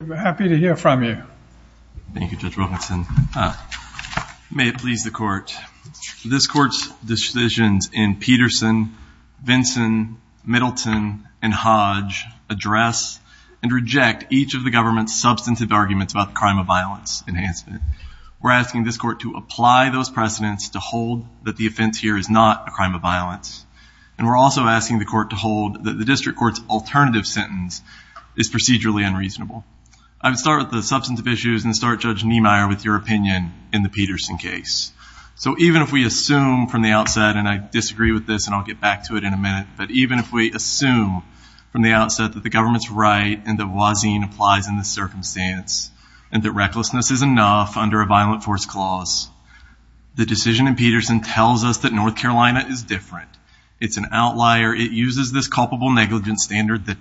We're happy to hear from you. Thank you, Judge Wilkinson. May it please the court, this court's decisions in Peterson, Vinson, Middleton, and Hodge address and reject each of the government's substantive arguments about the crime of violence enhancement. We're asking this court to apply those precedents to hold that the offense here is not a crime of violence and we're also asking the court to hold that the district court's alternative sentence is procedurally unreasonable. I would start with the substantive issues and start Judge Niemeyer with your opinion in the Peterson case. So even if we assume from the outset, and I disagree with this and I'll get back to it in a minute, but even if we assume from the outset that the government's right and that Wazin applies in this circumstance and that recklessness is enough under a violent force clause, the decision in Peterson tells us that North Carolina is different. It's an outlier. It uses this culpable negligence standard that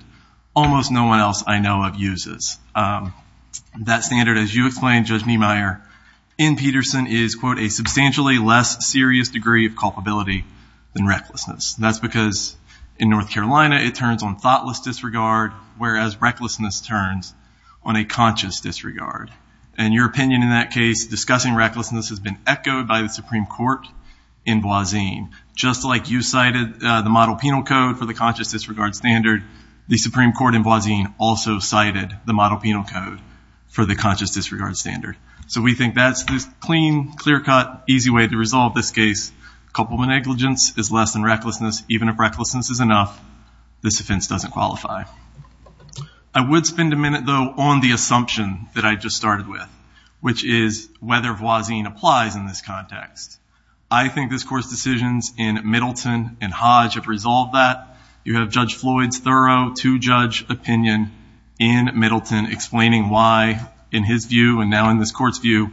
almost no one else I know of uses. That standard, as you explained, Judge Niemeyer, in Peterson is, quote, a substantially less serious degree of culpability than recklessness. That's because in North Carolina it turns on thoughtless disregard, whereas recklessness turns on a conscious disregard. And your opinion in that case discussing recklessness has been echoed by the Supreme Court in Wazin. Just like you cited the model penal code for the conscious disregard standard, the Supreme Court in Wazin also cited the model penal code for the conscious disregard standard. So we think that's this clean, clear-cut, easy way to resolve this case. Culpable negligence is less than recklessness. Even if recklessness is enough, this offense doesn't qualify. I would spend a minute, though, on the assumption that I just started with, which is whether Wazin applies in this context. I think this Court's decisions in Middleton and Hodge have resolved that. You have Judge Floyd's thorough two-judge opinion in Middleton explaining why, in his view and now in this Court's view,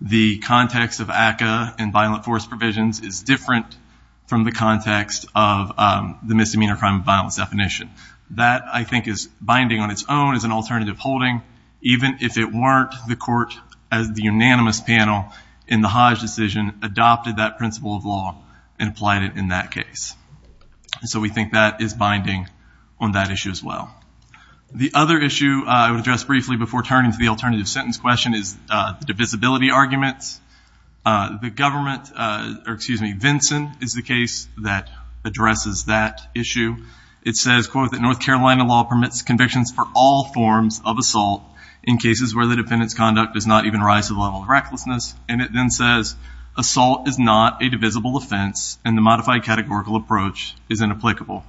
the context of ACCA and violent force provisions is different from the context of the misdemeanor crime of violence definition. That, I think, is binding on its own as an alternative holding, even if it weren't the Court as the unanimous panel in the Hodge decision adopted that principle of law and applied it in that case. So we think that is binding on that issue as well. The other issue I would address briefly before turning to the alternative sentence question is the divisibility arguments. The government, or excuse me, Vinson is the case that addresses that issue. It says, quote, that North Carolina law permits convictions for all forms of assault in cases where the defendant's conduct does not even rise to the level of recklessness. And it then says, assault is not a divisible offense and the modified categorical approach is inapplicable.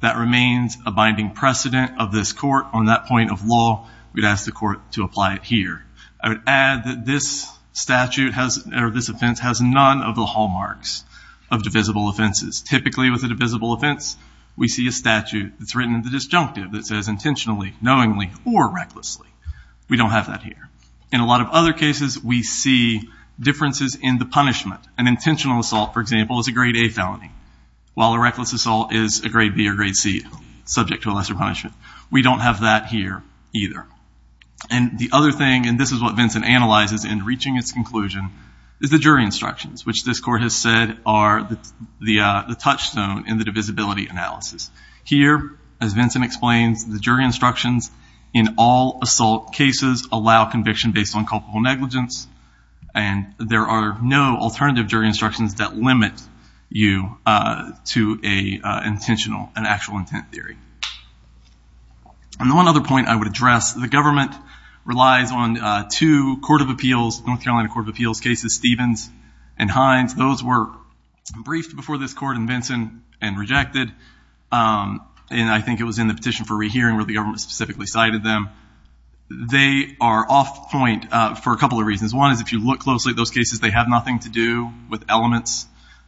That remains a binding precedent of this Court on that point of law. We'd ask the Court to apply it here. I would add that this statute has, or this offense, has none of the hallmarks of divisible offenses. Typically with a divisible offense, we see a statute that's written in the disjunctive that says intentionally, knowingly, or recklessly. We don't have that here. In a lot of other cases, we see differences in the punishment. An intentional assault, for example, is a grade A felony, while a reckless assault is a grade B or grade C, subject to a lesser punishment. We don't have that here either. And the other thing, and this is what Vinson analyzes in reaching its conclusion, is the jury instructions, which this Court has said are the touchstone in the divisibility analysis. Here, as Vinson explains, the jury allows conviction based on culpable negligence and there are no alternative jury instructions that limit you to an actual intent theory. And one other point I would address, the government relies on two North Carolina Court of Appeals cases, Stevens and Hines. Those were briefed before this court in Vinson and rejected. And I think it was in the petition for rehearing where the government specifically cited them. They are off point for a couple of reasons. One is if you look closely at those cases, they have nothing to do with elements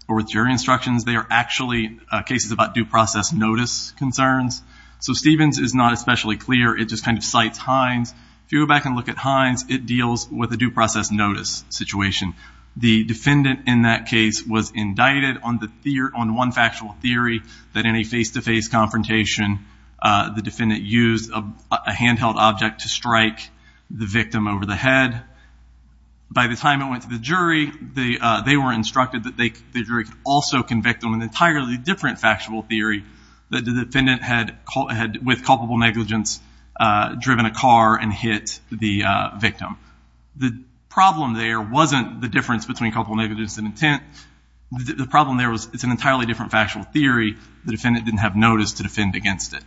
or with jury instructions. They are actually cases about due process notice concerns. So Stevens is not especially clear. It just kind of cites Hines. If you go back and look at Hines, it deals with a due process notice situation. The defendant in that case was indicted on one factual theory that in a face-to-face confrontation, the defendant used a handheld object to strike the victim over the head. By the time it went to the jury, they were instructed that the jury could also convict them in an entirely different factual theory that the defendant had, with culpable negligence, driven a car and hit the victim. The problem there wasn't the difference between culpable negligence and intent. The problem there was it's an intent theory. The defendant didn't have notice to defend against it.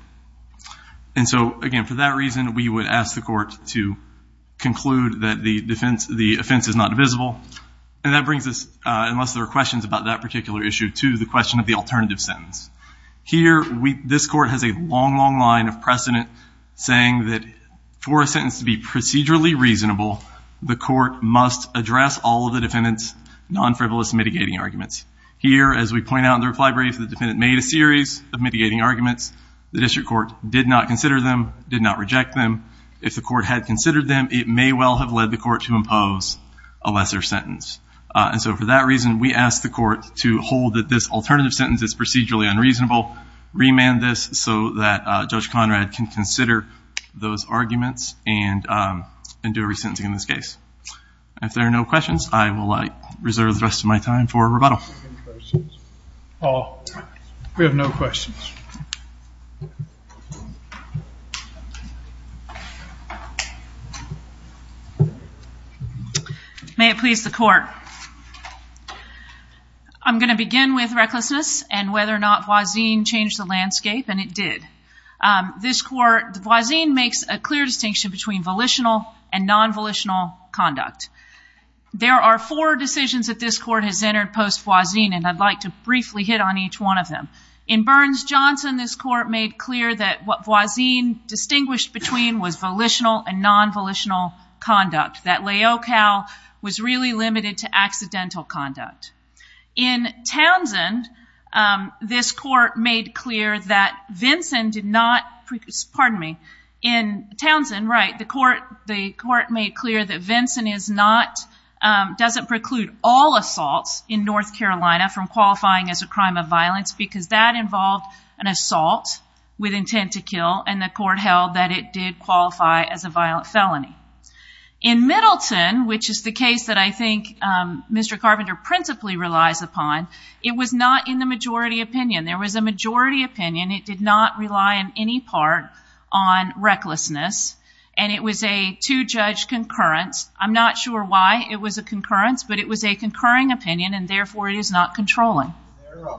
And so, again, for that reason, we would ask the court to conclude that the offense is not divisible. And that brings us, unless there are questions about that particular issue, to the question of the alternative sentence. Here, this court has a long, long line of precedent saying that for a sentence to be procedurally reasonable, the court must address all of the defendant's non-frivolous mitigating arguments. Here, as we point out in the reply brief, the defendant made a series of mitigating arguments. The district court did not consider them, did not reject them. If the court had considered them, it may well have led the court to impose a lesser sentence. And so, for that reason, we ask the court to hold that this alternative sentence is procedurally unreasonable, remand this so that Judge Conrad can consider those arguments and do a re-sentencing in this case. If there are no questions, I will reserve the rest of my time for questions. We have no questions. May it please the court. I'm going to begin with recklessness and whether or not Voisin changed the landscape, and it did. This court, Voisin makes a clear distinction between volitional and non-volitional conduct. There are four decisions that this court has entered post-Voisin, and I'd like to briefly hit on each one of them. In Burns-Johnson, this court made clear that what Voisin distinguished between was volitional and non-volitional conduct, that laocale was really limited to accidental conduct. In Townsend, this court made clear that Vinson did not, pardon me, in Townsend, right, the court made clear that Vinson is not, doesn't preclude all assaults in North Carolina from qualifying as a crime of violence because that involved an assault with intent to kill, and the court held that it did qualify as a violent felony. In Middleton, which is the case that I think Mr. Carpenter principally relies upon, it was not in the majority opinion. There was a majority opinion. It did not rely on any part on recklessness, and it was a two-judge concurrence. I'm not sure why it was a concurrence, but it was a concurring opinion, and therefore it is not controlling. Is there a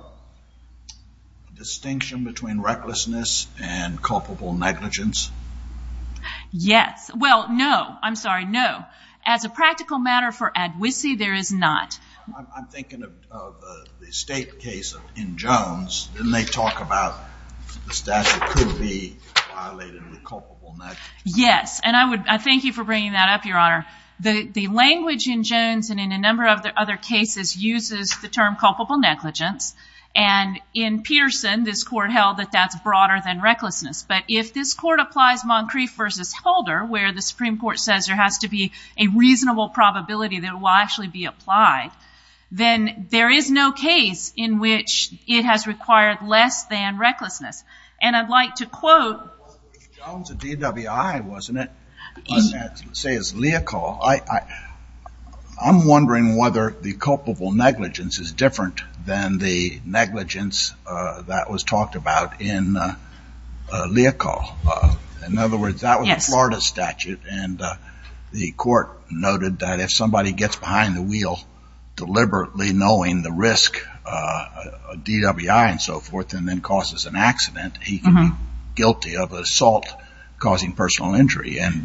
distinction between recklessness and culpable negligence? Yes. Well, no. I'm sorry, no. As a practical matter for Adwisi, there is not. I'm Yes, and I would thank you for bringing that up, Your Honor. The language in Jones and in a number of the other cases uses the term culpable negligence, and in Peterson, this court held that that's broader than recklessness, but if this court applies Moncrief versus Holder, where the Supreme Court says there has to be a reasonable probability that it will actually be applied, then there is no case in which it has required less than recklessness, and I'd like to quote Jones of DWI, wasn't it? I'm wondering whether the culpable negligence is different than the negligence that was talked about in Leocal. In other words, that was a Florida statute, and the court noted that if somebody gets behind the risk of DWI and so forth and then causes an accident, he can be guilty of assault causing personal injury, and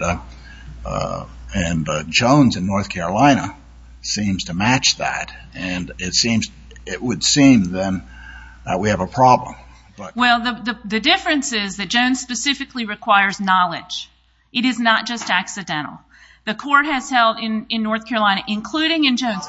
Jones in North Carolina seems to match that, and it would seem then that we have a problem. Well, the difference is that Jones specifically requires knowledge. It is not just accidental. The court has held in North Carolina, including in Jones,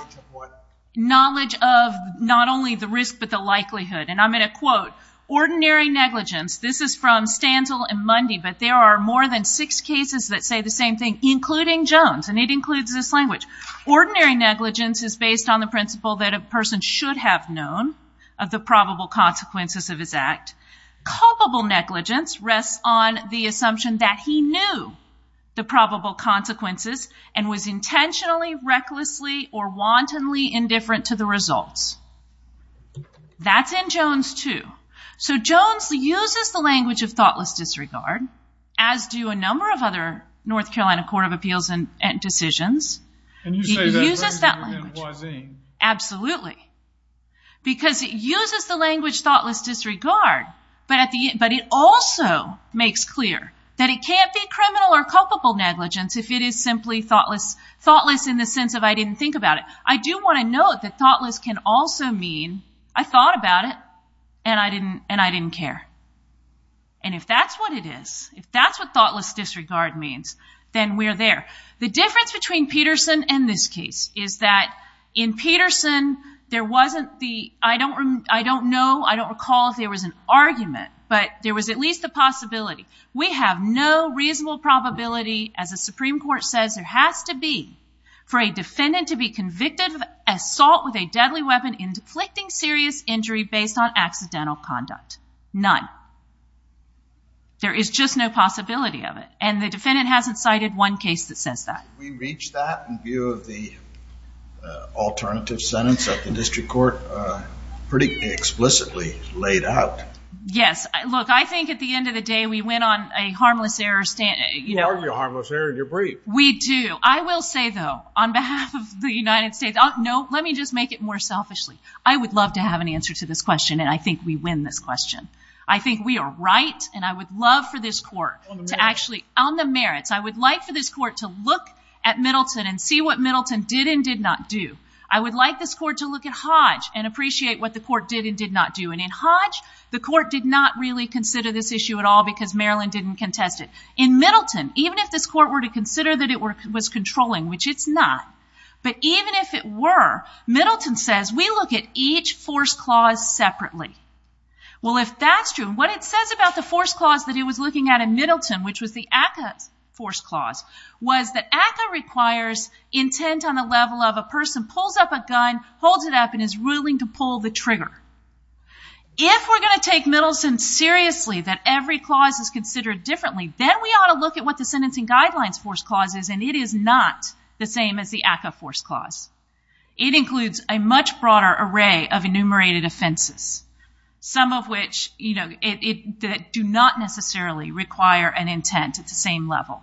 knowledge of not only the risk but the likelihood, and I'm going to quote, ordinary negligence. This is from Stanzel and Mundy, but there are more than six cases that say the same thing, including Jones, and it includes this language. Ordinary negligence is based on the principle that a person should have known of the probable consequences of his act. Culpable negligence rests on the assumption that he knew the probable consequences and was intentionally, recklessly, or wantonly indifferent to the results. That's in Jones too. So Jones uses the language of thoughtless disregard, as do a number of other North Carolina Court of Appeals decisions. And you say that better than Huazin. Absolutely, because it uses the language thoughtless disregard, but it also makes clear that it can't be criminal or culpable negligence if it is simply thoughtless in the sense of I didn't think about it. I do want to note that thoughtless can also mean I thought about it and I didn't care. And if that's what it is, if that's what thoughtless disregard means, then we're there. The difference between Peterson and this case is that in Peterson, there wasn't the, I don't know, I don't recall if there was an argument, but there was at least a possibility. We have no reasonable probability, as the Supreme Court says, there has to be for a defendant to be convicted of assault with a deadly weapon in deflecting serious injury based on accidental conduct. None. There is just no possibility of it. And the defendant hasn't cited one case that says that. Did we reach that in view of the alternative sentence that the district court pretty explicitly laid out? Yes. Look, I think at the end of the day, we went on a harmless error You argue a harmless error and you're brief. We do. I will say, though, on behalf of the United States, no, let me just make it more selfishly. I would love to have an answer to this question and I think we win this question. I think we are right and I would love for this court to actually, on the merits, I would like for this court to look at Middleton and see what Middleton did and did not do. I would like this court to look at Hodge and appreciate what the court did and did not do. And in Hodge, the court did not really consider this issue at all because Maryland didn't contest it. In Middleton, even if this court were to consider that it was controlling, which it's not, but even if it were, Middleton says, we look at each force clause separately. Well, if that's true, what it says about the force clause that it was looking at in Middleton, which was the ACCA force clause, was that ACCA requires intent on the level of a person pulls up a gun, holds it up, and is willing to pull the trigger. If we're going to take Middleton seriously, that every clause is considered differently, then we ought to look at what the sentencing guidelines force clause is and it is not the same as the ACCA force clause. It includes a much broader array of enumerated offenses, some of which do not necessarily require an intent at the same level.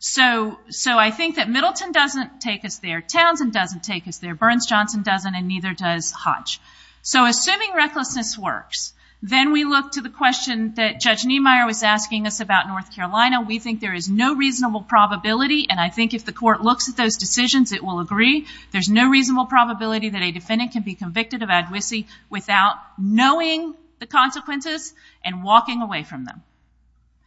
So I think that Middleton doesn't take us there. Townsend doesn't take us there. Burns Johnson doesn't and neither does Hodge. So assuming recklessness works, then we look to the question that Judge Niemeyer was asking us about North Carolina. We think there is no reasonable probability, and I think if the court looks at those decisions, it will agree, there's no reasonable probability that a defendant can be convicted of advocacy without knowing the consequences and walking away from them.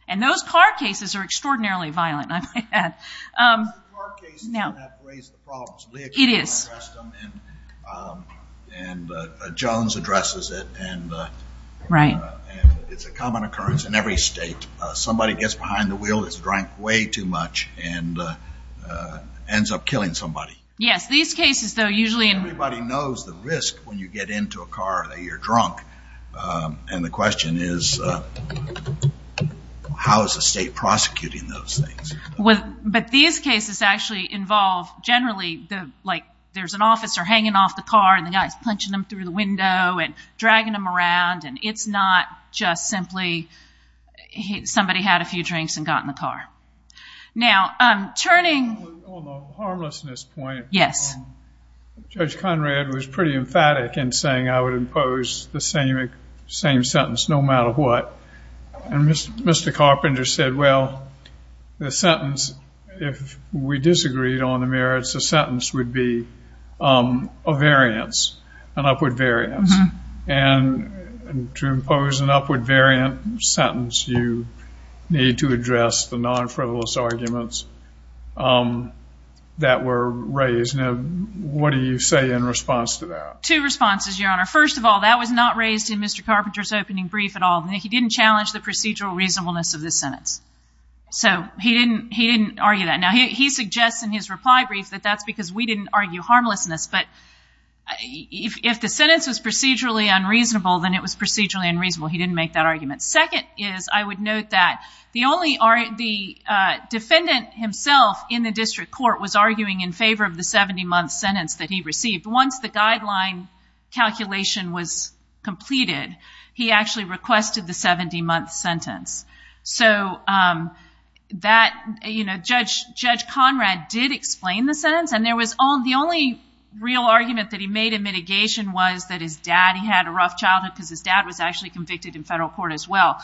And those car cases are extraordinarily violent, I might add. Car cases have raised the problem. It is. And Jones addresses it. Right. It's a common occurrence in every state. Somebody gets behind the wheel, is drunk way too much, and ends up killing somebody. Yes, these cases, though, usually... Everybody knows the risk when you get into a car, that you're drunk. And the question is, how is the state prosecuting those things? But these cases actually involve, generally, like there's an officer hanging off the car and the guy's punching him through the window and dragging him around, and it's not just simply somebody had a few drinks and got in the car. Now, turning... On the harmlessness point... Yes. Judge Conrad was pretty emphatic in saying I would impose the same sentence no matter what. And Mr. Carpenter said, well, the sentence, if we disagreed on the merits, the sentence would be a variance, an upward variance. And to impose an upward variant sentence, you need to address the non-frivolous arguments that were raised. Now, what do you say in response to that? Two responses, Your Honor. First of all, that was not raised in Mr. Carpenter's opening brief at all. He didn't challenge the procedural reasonableness of the sentence. So he didn't argue that. Now, he suggests in his reply brief that that's because we didn't argue harmlessness, but if the sentence was procedurally unreasonable, then it was procedurally unreasonable. He didn't make that argument. Second is, I would note that the defendant himself in the district court was arguing in favor of the 70-month sentence that he received. Once the guideline calculation was completed, he actually requested the 70-month sentence. So Judge Conrad did explain the sentence. And the only real argument that he made in mitigation was that his dad, he had a rough childhood because his dad was actually convicted in federal court as well.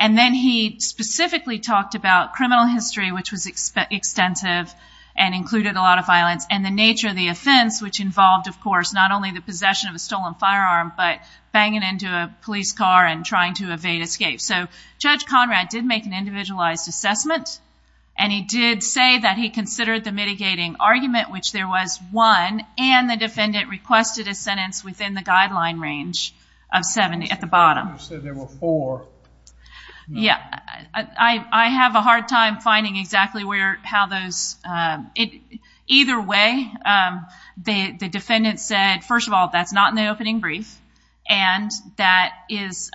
And then he specifically talked about criminal history, which was extensive and included a lot of violence, and the nature of the offense, which involved, of course, not only the possession of a stolen firearm, but banging into a police car and trying to evade escape. So Judge Conrad did make an individualized assessment, and he did say that he considered the mitigating argument, which there was one, and the defendant requested a sentence within the guideline range of 70 at the bottom. You said there were four. Yeah. I have a hard time finding exactly how those... Either way, the defendant said, first of all, that's not in the opening brief, and that is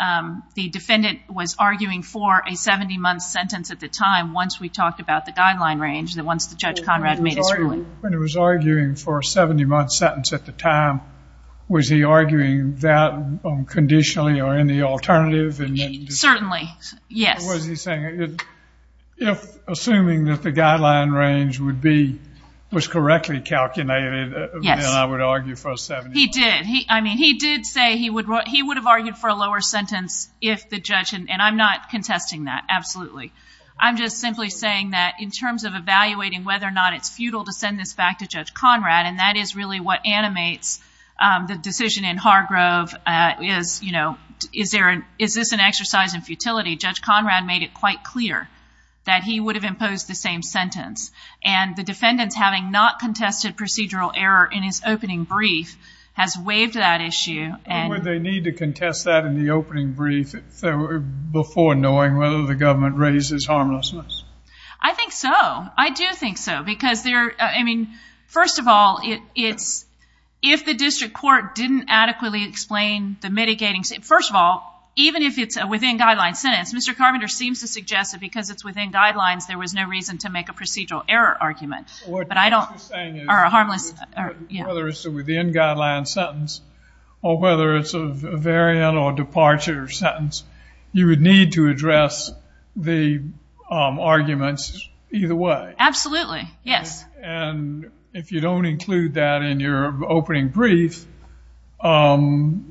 the defendant was arguing for a 70-month sentence at the time once we talked about the guideline range, once the Judge Conrad made his ruling. When he was arguing for a 70-month sentence at the time, was he arguing that conditionally or in the alternative? Certainly. Yes. Or was he saying, assuming that the guideline range was correctly calculated, then I would argue for a 70-month... He did. I mean, he did say he would have argued for a lower sentence if the judge, and I'm not contesting that, absolutely. I'm just simply saying that in terms of evaluating whether or not it's futile to send this back to Judge Conrad, and that is really what animates the decision in Hargrove. Is this an exercise in futility? Judge Conrad made it quite clear that he would have imposed the same sentence, and the defendant's having not contested procedural error in his opening brief has waived that issue. Would they need to contest that in the opening brief before knowing whether the government raises harmlessness? I think so. I do think so, because, I mean, first of all, if the district court didn't adequately explain the mitigating... First of all, even if it's a within-guidelines sentence, Mr. Carpenter seems to suggest that because it's within guidelines, there was no reason to make a procedural error argument. But I don't... What she's saying is, whether it's a within-guidelines sentence or whether it's a variant or departure sentence, you would need to address the arguments either way. Absolutely. Yes. And if you don't include that in your opening brief, then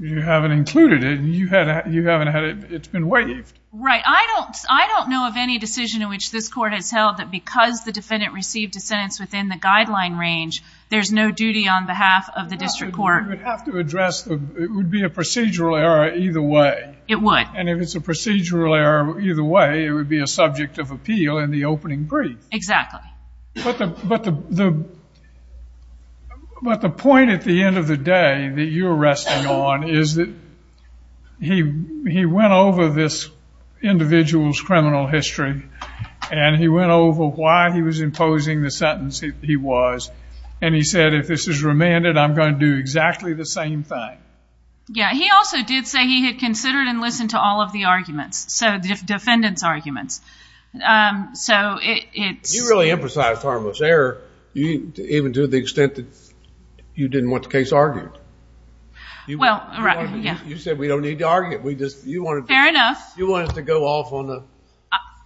you haven't included it. You haven't had it. It's been waived. Right. I don't know of any decision in which this court has held that because the defendant received a sentence within the guideline range, there's no duty on behalf of the district court... It would. And if it's a procedural error either way, it would be a subject of appeal in the opening brief. Exactly. But the point at the end of the day that you're resting on is that he went over this individual's criminal history, and he went over why he was imposing the sentence he was, and he said, if this is remanded, I'm going to do exactly the same thing. Yeah. He also did say he had considered and listened to all of the arguments, so the defendant's arguments. So it's... You really emphasized harmless error, even to the extent that you didn't want the case argued. Well, yeah. You said we don't need to argue it. We just... Fair enough. You wanted to go off on a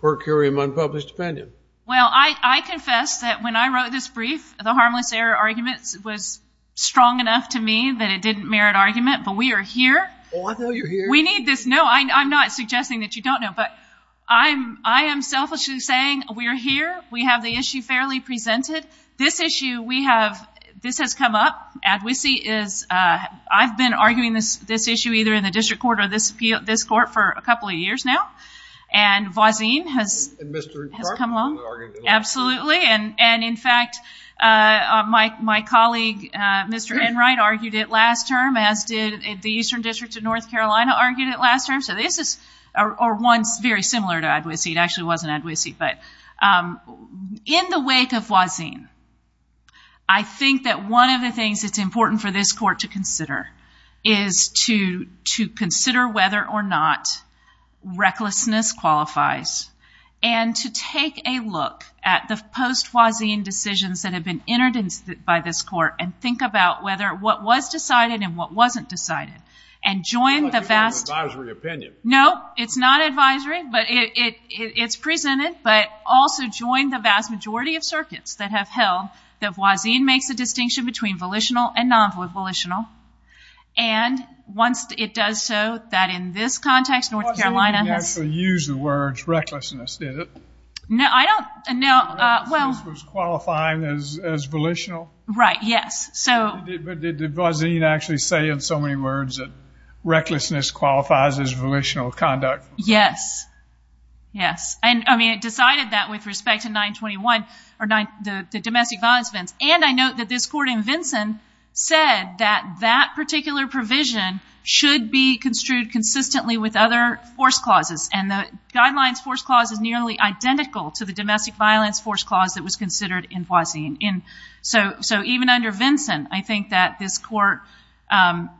per curiam unpublished opinion. Well, I confess that when I wrote this brief, the harmless error argument was strong enough to me that it didn't merit the argument, but we are here. Well, I know you're here. We need this. No, I'm not suggesting that you don't know, but I am selfishly saying we are here. We have the issue fairly presented. This issue we have, this has come up. I've been arguing this issue either in the district court or this court for a couple of years now, and Voisin has... And Mr. Clark has argued it. Absolutely, and in fact, my colleague, Mr. Enright, argued it last term, as did the Eastern District of North Carolina, argued it last term. So this is... Or one very similar to Adwisi. It actually wasn't Adwisi, but in the wake of Voisin, I think that one of the things that's important for this court to consider is to consider whether or not recklessness qualifies and to take a look at the post-Voisin decisions that have been entered by this court and think about whether what was decided and what wasn't decided. And join the vast... I thought you had an advisory opinion. No, it's not advisory, but it's presented. But also join the vast majority of circuits that have held that Voisin makes a distinction between volitional and non-volitional. And once it does so, that in this context, North Carolina has... Voisin didn't actually use the words recklessness, did it? No, I don't... Recklessness was qualifying as volitional? Right, yes. So... But did Voisin actually say in so many words that recklessness qualifies as volitional conduct? Yes. Yes. And, I mean, it decided that with respect to 921 or the domestic violence events. And I note that this court in Vinson said that that particular provision should be construed consistently with other force clauses. force clause that was considered in Voisin. So even under Vinson, I think that this court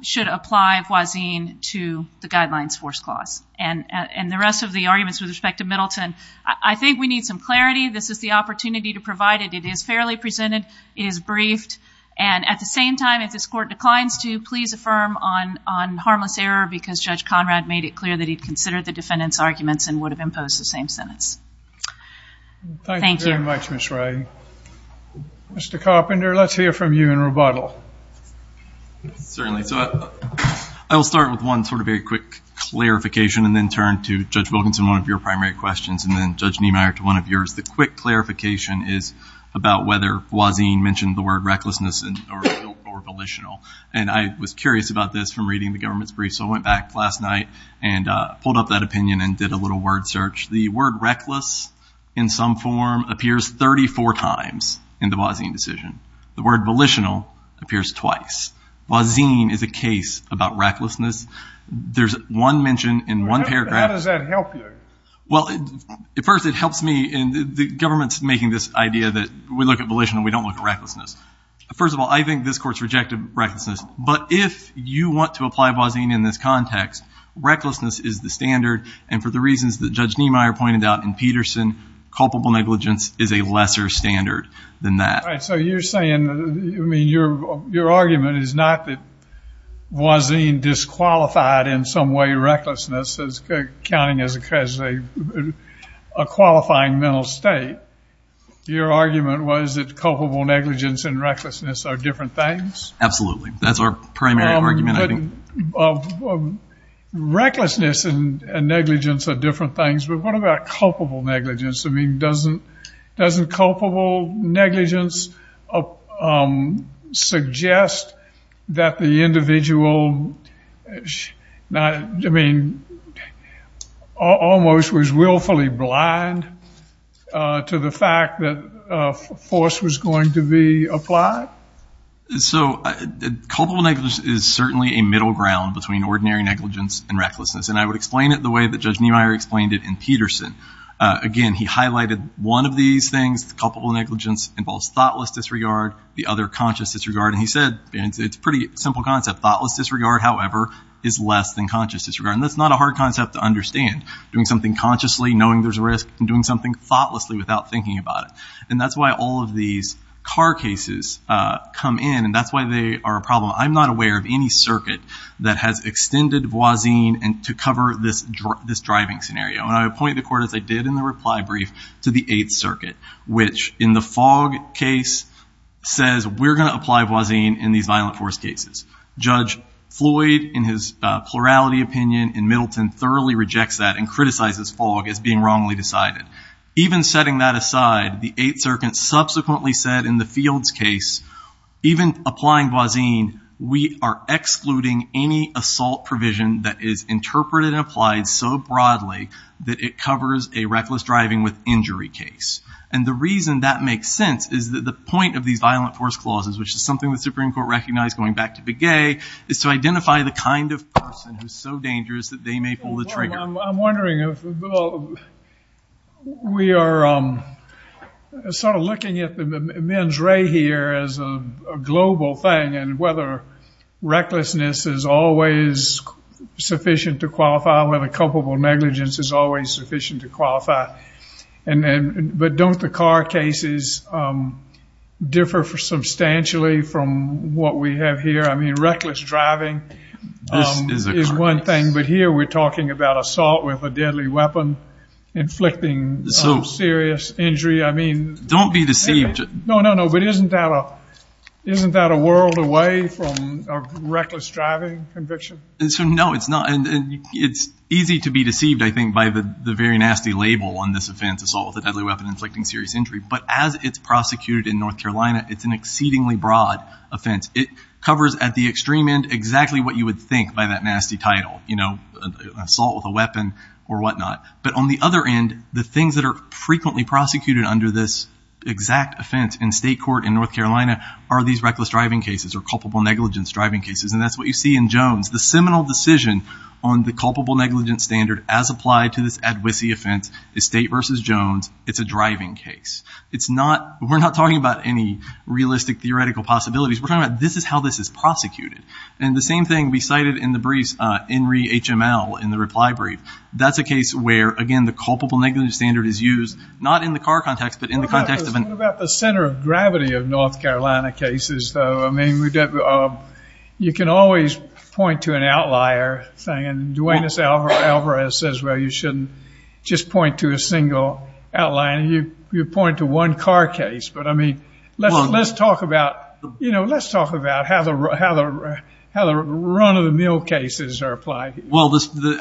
should apply Voisin to the guidelines force clause. And the rest of the arguments with respect to Middleton, I think we need some clarity. This is the opportunity to provide it. It is fairly presented. It is briefed. And at the same time, if this court declines to, please affirm on harmless error because Judge Conrad made it clear that he considered the defendant's arguments and would have imposed the same sentence. Thank you. Thank you very much, Ms. Ray. Mr. Carpenter, let's hear from you in rebuttal. Certainly. So I will start with one sort of very quick clarification and then turn to Judge Wilkinson, one of your primary questions, and then Judge Niemeyer to one of yours. The quick clarification is about whether Voisin mentioned the word recklessness or volitional. And I was curious about this from reading the government's brief. So I went back last night and pulled up that opinion and did a little word search. The word reckless in some form appears 34 times in the Voisin decision. The word volitional appears twice. Voisin is a case about recklessness. There's one mention in one paragraph. How does that help you? Well, first, it helps me. And the government's making this idea that we look at volitional, we don't look at recklessness. First of all, I think this court's rejected recklessness. But if you want to apply Voisin in this context, recklessness is the standard. And for the reasons that Judge Niemeyer pointed out in Peterson, culpable negligence is a lesser standard than that. All right. So you're saying, I mean, your argument is not that Voisin disqualified in some way recklessness as accounting as a qualifying mental state. Your argument was that culpable negligence and recklessness are different things? Absolutely. That's our primary argument. Recklessness and negligence are different things. But what about culpable negligence? I mean, doesn't culpable negligence suggest that the individual, I mean, almost was willfully blind to the fact that force was going to be applied? So culpable negligence is certainly a middle ground between ordinary negligence and recklessness. And I would explain it the way that Judge Niemeyer explained it in Peterson. Again, he highlighted one of these things, culpable negligence involves thoughtless disregard, the other conscious disregard. And he said, and it's a pretty simple concept, thoughtless disregard, however, is less than conscious disregard. And that's not a hard concept to understand. Doing something consciously, knowing there's a risk, and doing something thoughtlessly without thinking about it. And that's why all of these car cases come in, and that's why they are a problem. I'm not aware of any circuit that has extended Voisin to cover this driving scenario. And I point the court, as I did in the reply brief, to the Eighth Circuit, which in the Fogg case says, we're going to apply Voisin in these violent force cases. Judge Floyd, in his plurality opinion in Middleton, thoroughly rejects that and criticizes Fogg as being wrongly decided. Even setting that aside, the Eighth Circuit subsequently said in the Fields case, even applying Voisin, we are excluding any assault provision that is interpreted and applied so broadly that it covers a reckless driving with injury case. And the reason that makes sense is that the point of these violent force clauses, which is something the Supreme Court recognized going back to Begay, is to identify the kind of person who's so dangerous that they may pull the trigger. I'm wondering if, Bill, we are sort of looking at the men's ray here as a global thing, and whether recklessness is always sufficient to qualify, whether culpable negligence is always sufficient to qualify. But don't the car cases differ substantially from what we have here? I mean, reckless driving is one thing. But here we're talking about assault with a deadly weapon inflicting serious injury. I mean— Don't be deceived. No, no, no. But isn't that a world away from a reckless driving conviction? No, it's not. It's easy to be deceived, I think, by the very nasty label on this offense, assault with a deadly weapon inflicting serious injury. But as it's prosecuted in North Carolina, it's an exceedingly broad offense. It covers at the extreme end exactly what you would think by that nasty title, you know, assault with a weapon or whatnot. But on the other end, the things that are frequently prosecuted under this exact offense in state court in North Carolina are these reckless driving cases or culpable negligence driving cases. And that's what you see in Jones. The seminal decision on the culpable negligence standard as applied to this advocacy offense is State v. Jones. It's a driving case. It's not—we're not talking about any realistic theoretical possibilities. We're talking about this is how this is prosecuted. And the same thing we cited in the briefs, INRI HML, in the reply brief. That's a case where, again, the culpable negligence standard is used, not in the car context, but in the context of an— What about the center of gravity of North Carolina cases, though? I mean, you can always point to an outlier thing. And Duane Alvarez says, well, you shouldn't just point to a single outlier. You point to one car case. But, I mean, let's talk about how the run-of-the-mill cases are applied. Well,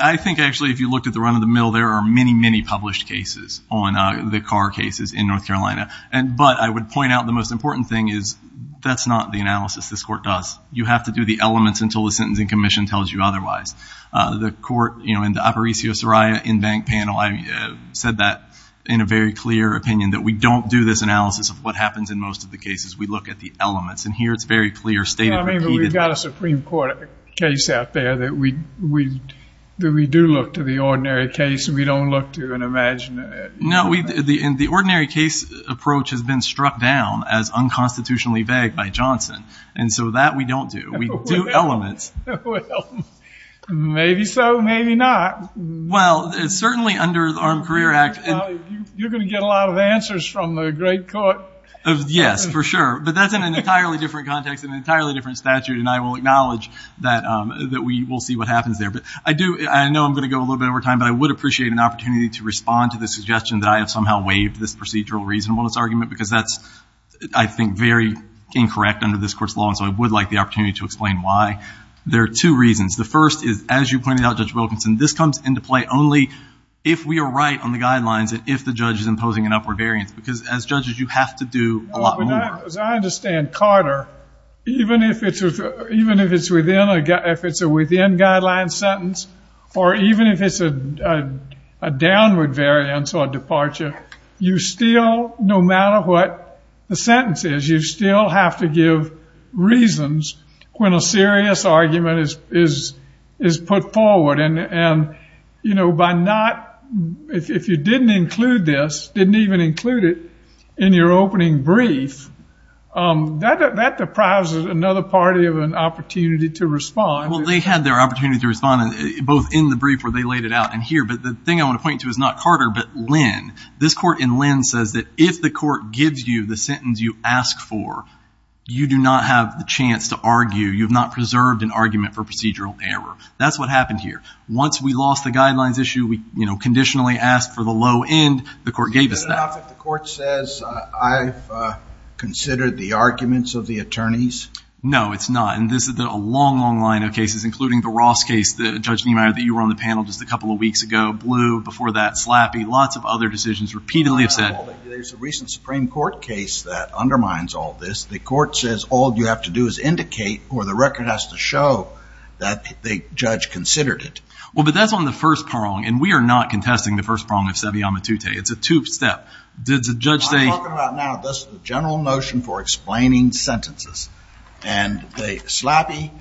I think, actually, if you looked at the run-of-the-mill, there are many, many published cases on the car cases in North Carolina. But I would point out the most important thing is that's not the analysis this court does. You have to do the elements until the sentencing commission tells you otherwise. The court, you know, in the Aparicio-Soraya in-bank panel, I said that in a very clear opinion, that we don't do this analysis of what happens in most of the cases. We look at the elements. And here it's very clear, stated repeatedly— I mean, we've got a Supreme Court case out there that we do look to the ordinary case and we don't look to an imagined— No, we—the ordinary case approach has been struck down as unconstitutionally vague by Johnson. And so that we don't do. We do elements. Well, maybe so, maybe not. Well, certainly under the Armed Career Act— You're going to get a lot of answers from the great court. Yes, for sure. But that's in an entirely different context, an entirely different statute. And I will acknowledge that we will see what happens there. But I do—I know I'm going to go a little bit over time, but I would appreciate an opportunity to respond to the suggestion that I have somehow waived this procedural reasonableness argument because that's, I think, very incorrect under this court's law. And so I would like the opportunity to explain why. There are two reasons. The first is, as you pointed out, Judge Wilkinson, this comes into play only if we are right on the guidelines and if the judge is imposing an upward variance. Because, as judges, you have to do a lot more. As I understand, Carter, even if it's within a— if it's a within-guidelines sentence or even if it's a downward variance or a departure, you still, no matter what the sentence is, you still have to give reasons when a serious argument is put forward. And, you know, by not—if you didn't include this, didn't even include it in your opening brief, that deprives another party of an opportunity to respond. Well, they had their opportunity to respond, both in the brief where they laid it out and here. But the thing I want to point to is not Carter but Lynn. This court in Lynn says that if the court gives you the sentence you ask for, you do not have the chance to argue. You have not preserved an argument for procedural error. That's what happened here. Once we lost the guidelines issue, we, you know, conditionally asked for the low end. The court gave us that. Is it enough if the court says, I've considered the arguments of the attorneys? No, it's not. And this is a long, long line of cases, including the Ross case, Judge Niemeyer, that you were on the panel just a couple of weeks ago, blew before that, slappy. Lots of other decisions repeatedly have said— There's a recent Supreme Court case that undermines all this. The court says all you have to do is indicate, or the record has to show that the judge considered it. Well, but that's on the first prong, and we are not contesting the first prong of Seve Amatute. It's a two-step. Did the judge say— I'm talking about now this general notion for explaining sentences. And they—slappy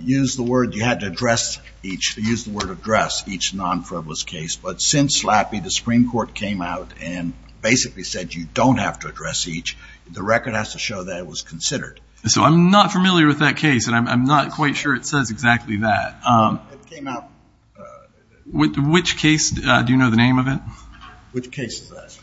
used the word you had to address each— used the word address each non-frivolous case. But since slappy, the Supreme Court came out and basically said you don't have to address each. The record has to show that it was considered. So I'm not familiar with that case, and I'm not quite sure it says exactly that. It came out— Which case? Do you know the name of it? Which case is that?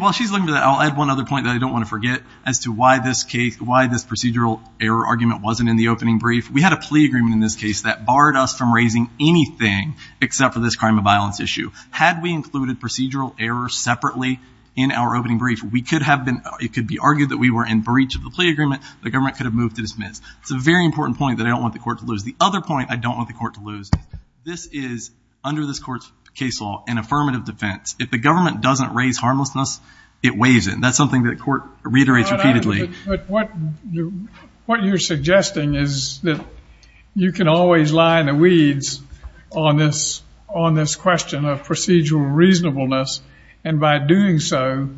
While she's looking for that, I'll add one other point that I don't want to forget as to why this procedural error argument wasn't in the opening brief. We had a plea agreement in this case that barred us from raising anything except for this crime of violence issue. Had we included procedural error separately in our opening brief, we could have been—it could be argued that we were in breach of the plea agreement. The government could have moved to dismiss. It's a very important point that I don't want the court to lose. The other point I don't want the court to lose, this is, under this court's case law, an affirmative defense. If the government doesn't raise harmlessness, it weighs it. And that's something that the court reiterates repeatedly. But what you're suggesting is that you can always lie in the weeds on this question of procedural reasonableness. And by doing so,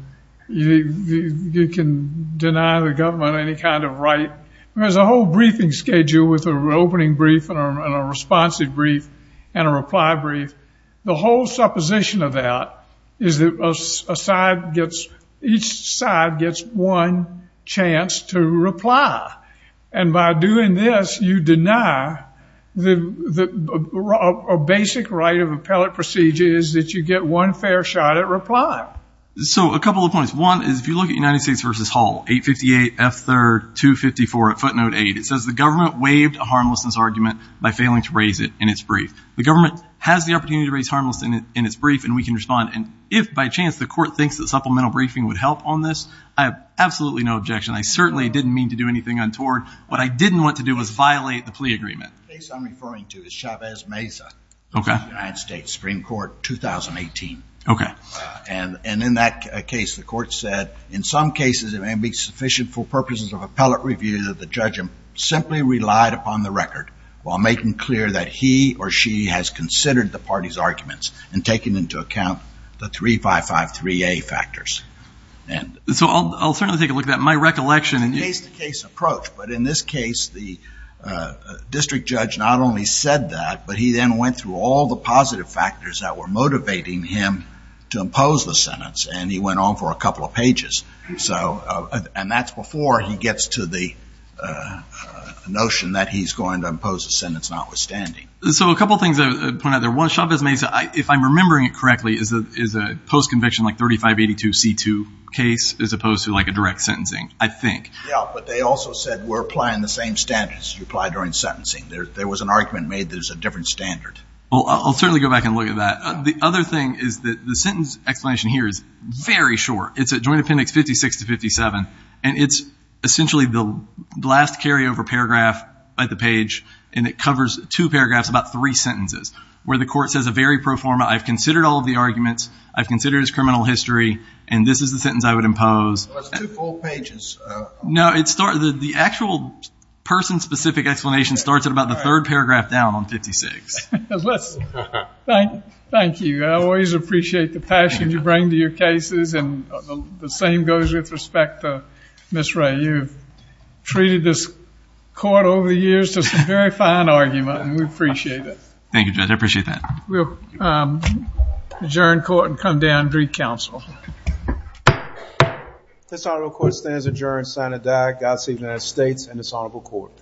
you can deny the government any kind of right. There's a whole briefing schedule with an opening brief and a responsive brief and a reply brief. The whole supposition of that is that each side gets one chance to reply. And by doing this, you deny a basic right of appellate procedure which is that you get one fair shot at reply. So a couple of points. One is if you look at United States v. Hall, 858 F. 3rd 254 at footnote 8, it says the government waived a harmlessness argument by failing to raise it in its brief. The government has the opportunity to raise harmlessness in its brief, and we can respond. And if by chance the court thinks that supplemental briefing would help on this, I have absolutely no objection. I certainly didn't mean to do anything untoward. What I didn't want to do was violate the plea agreement. The case I'm referring to is Chavez Meza. Okay. United States Supreme Court, 2018. Okay. And in that case, the court said, in some cases it may be sufficient for purposes of appellate review that the judge simply relied upon the record while making clear that he or she has considered the party's arguments and taken into account the 3553A factors. So I'll certainly take a look at that. My recollection is. But in this case, the district judge not only said that, but he then went through all the positive factors that were motivating him to impose the sentence, and he went on for a couple of pages. And that's before he gets to the notion that he's going to impose a sentence notwithstanding. So a couple things I would point out there. One, Chavez Meza, if I'm remembering it correctly, is a post-conviction like 3582C2 case as opposed to like a direct sentencing, I think. Yeah, but they also said we're applying the same standards you apply during sentencing. There was an argument made there's a different standard. Well, I'll certainly go back and look at that. The other thing is that the sentence explanation here is very short. It's at Joint Appendix 56 to 57, and it's essentially the last carryover paragraph at the page, and it covers two paragraphs, about three sentences, where the court says a very pro forma, I've considered all of the arguments, I've considered his criminal history, and this is the sentence I would impose. Well, it's two full pages. No, the actual person-specific explanation starts at about the third paragraph down on 56. Thank you. I always appreciate the passion you bring to your cases, and the same goes with respect to Ms. Ray. You've treated this court over the years to some very fine argument, and we appreciate it. Thank you, Judge. I appreciate that. We'll adjourn court and come down and brief counsel. This honorable court stands adjourned, sign of the diag. Godspeed to the United States and this honorable court.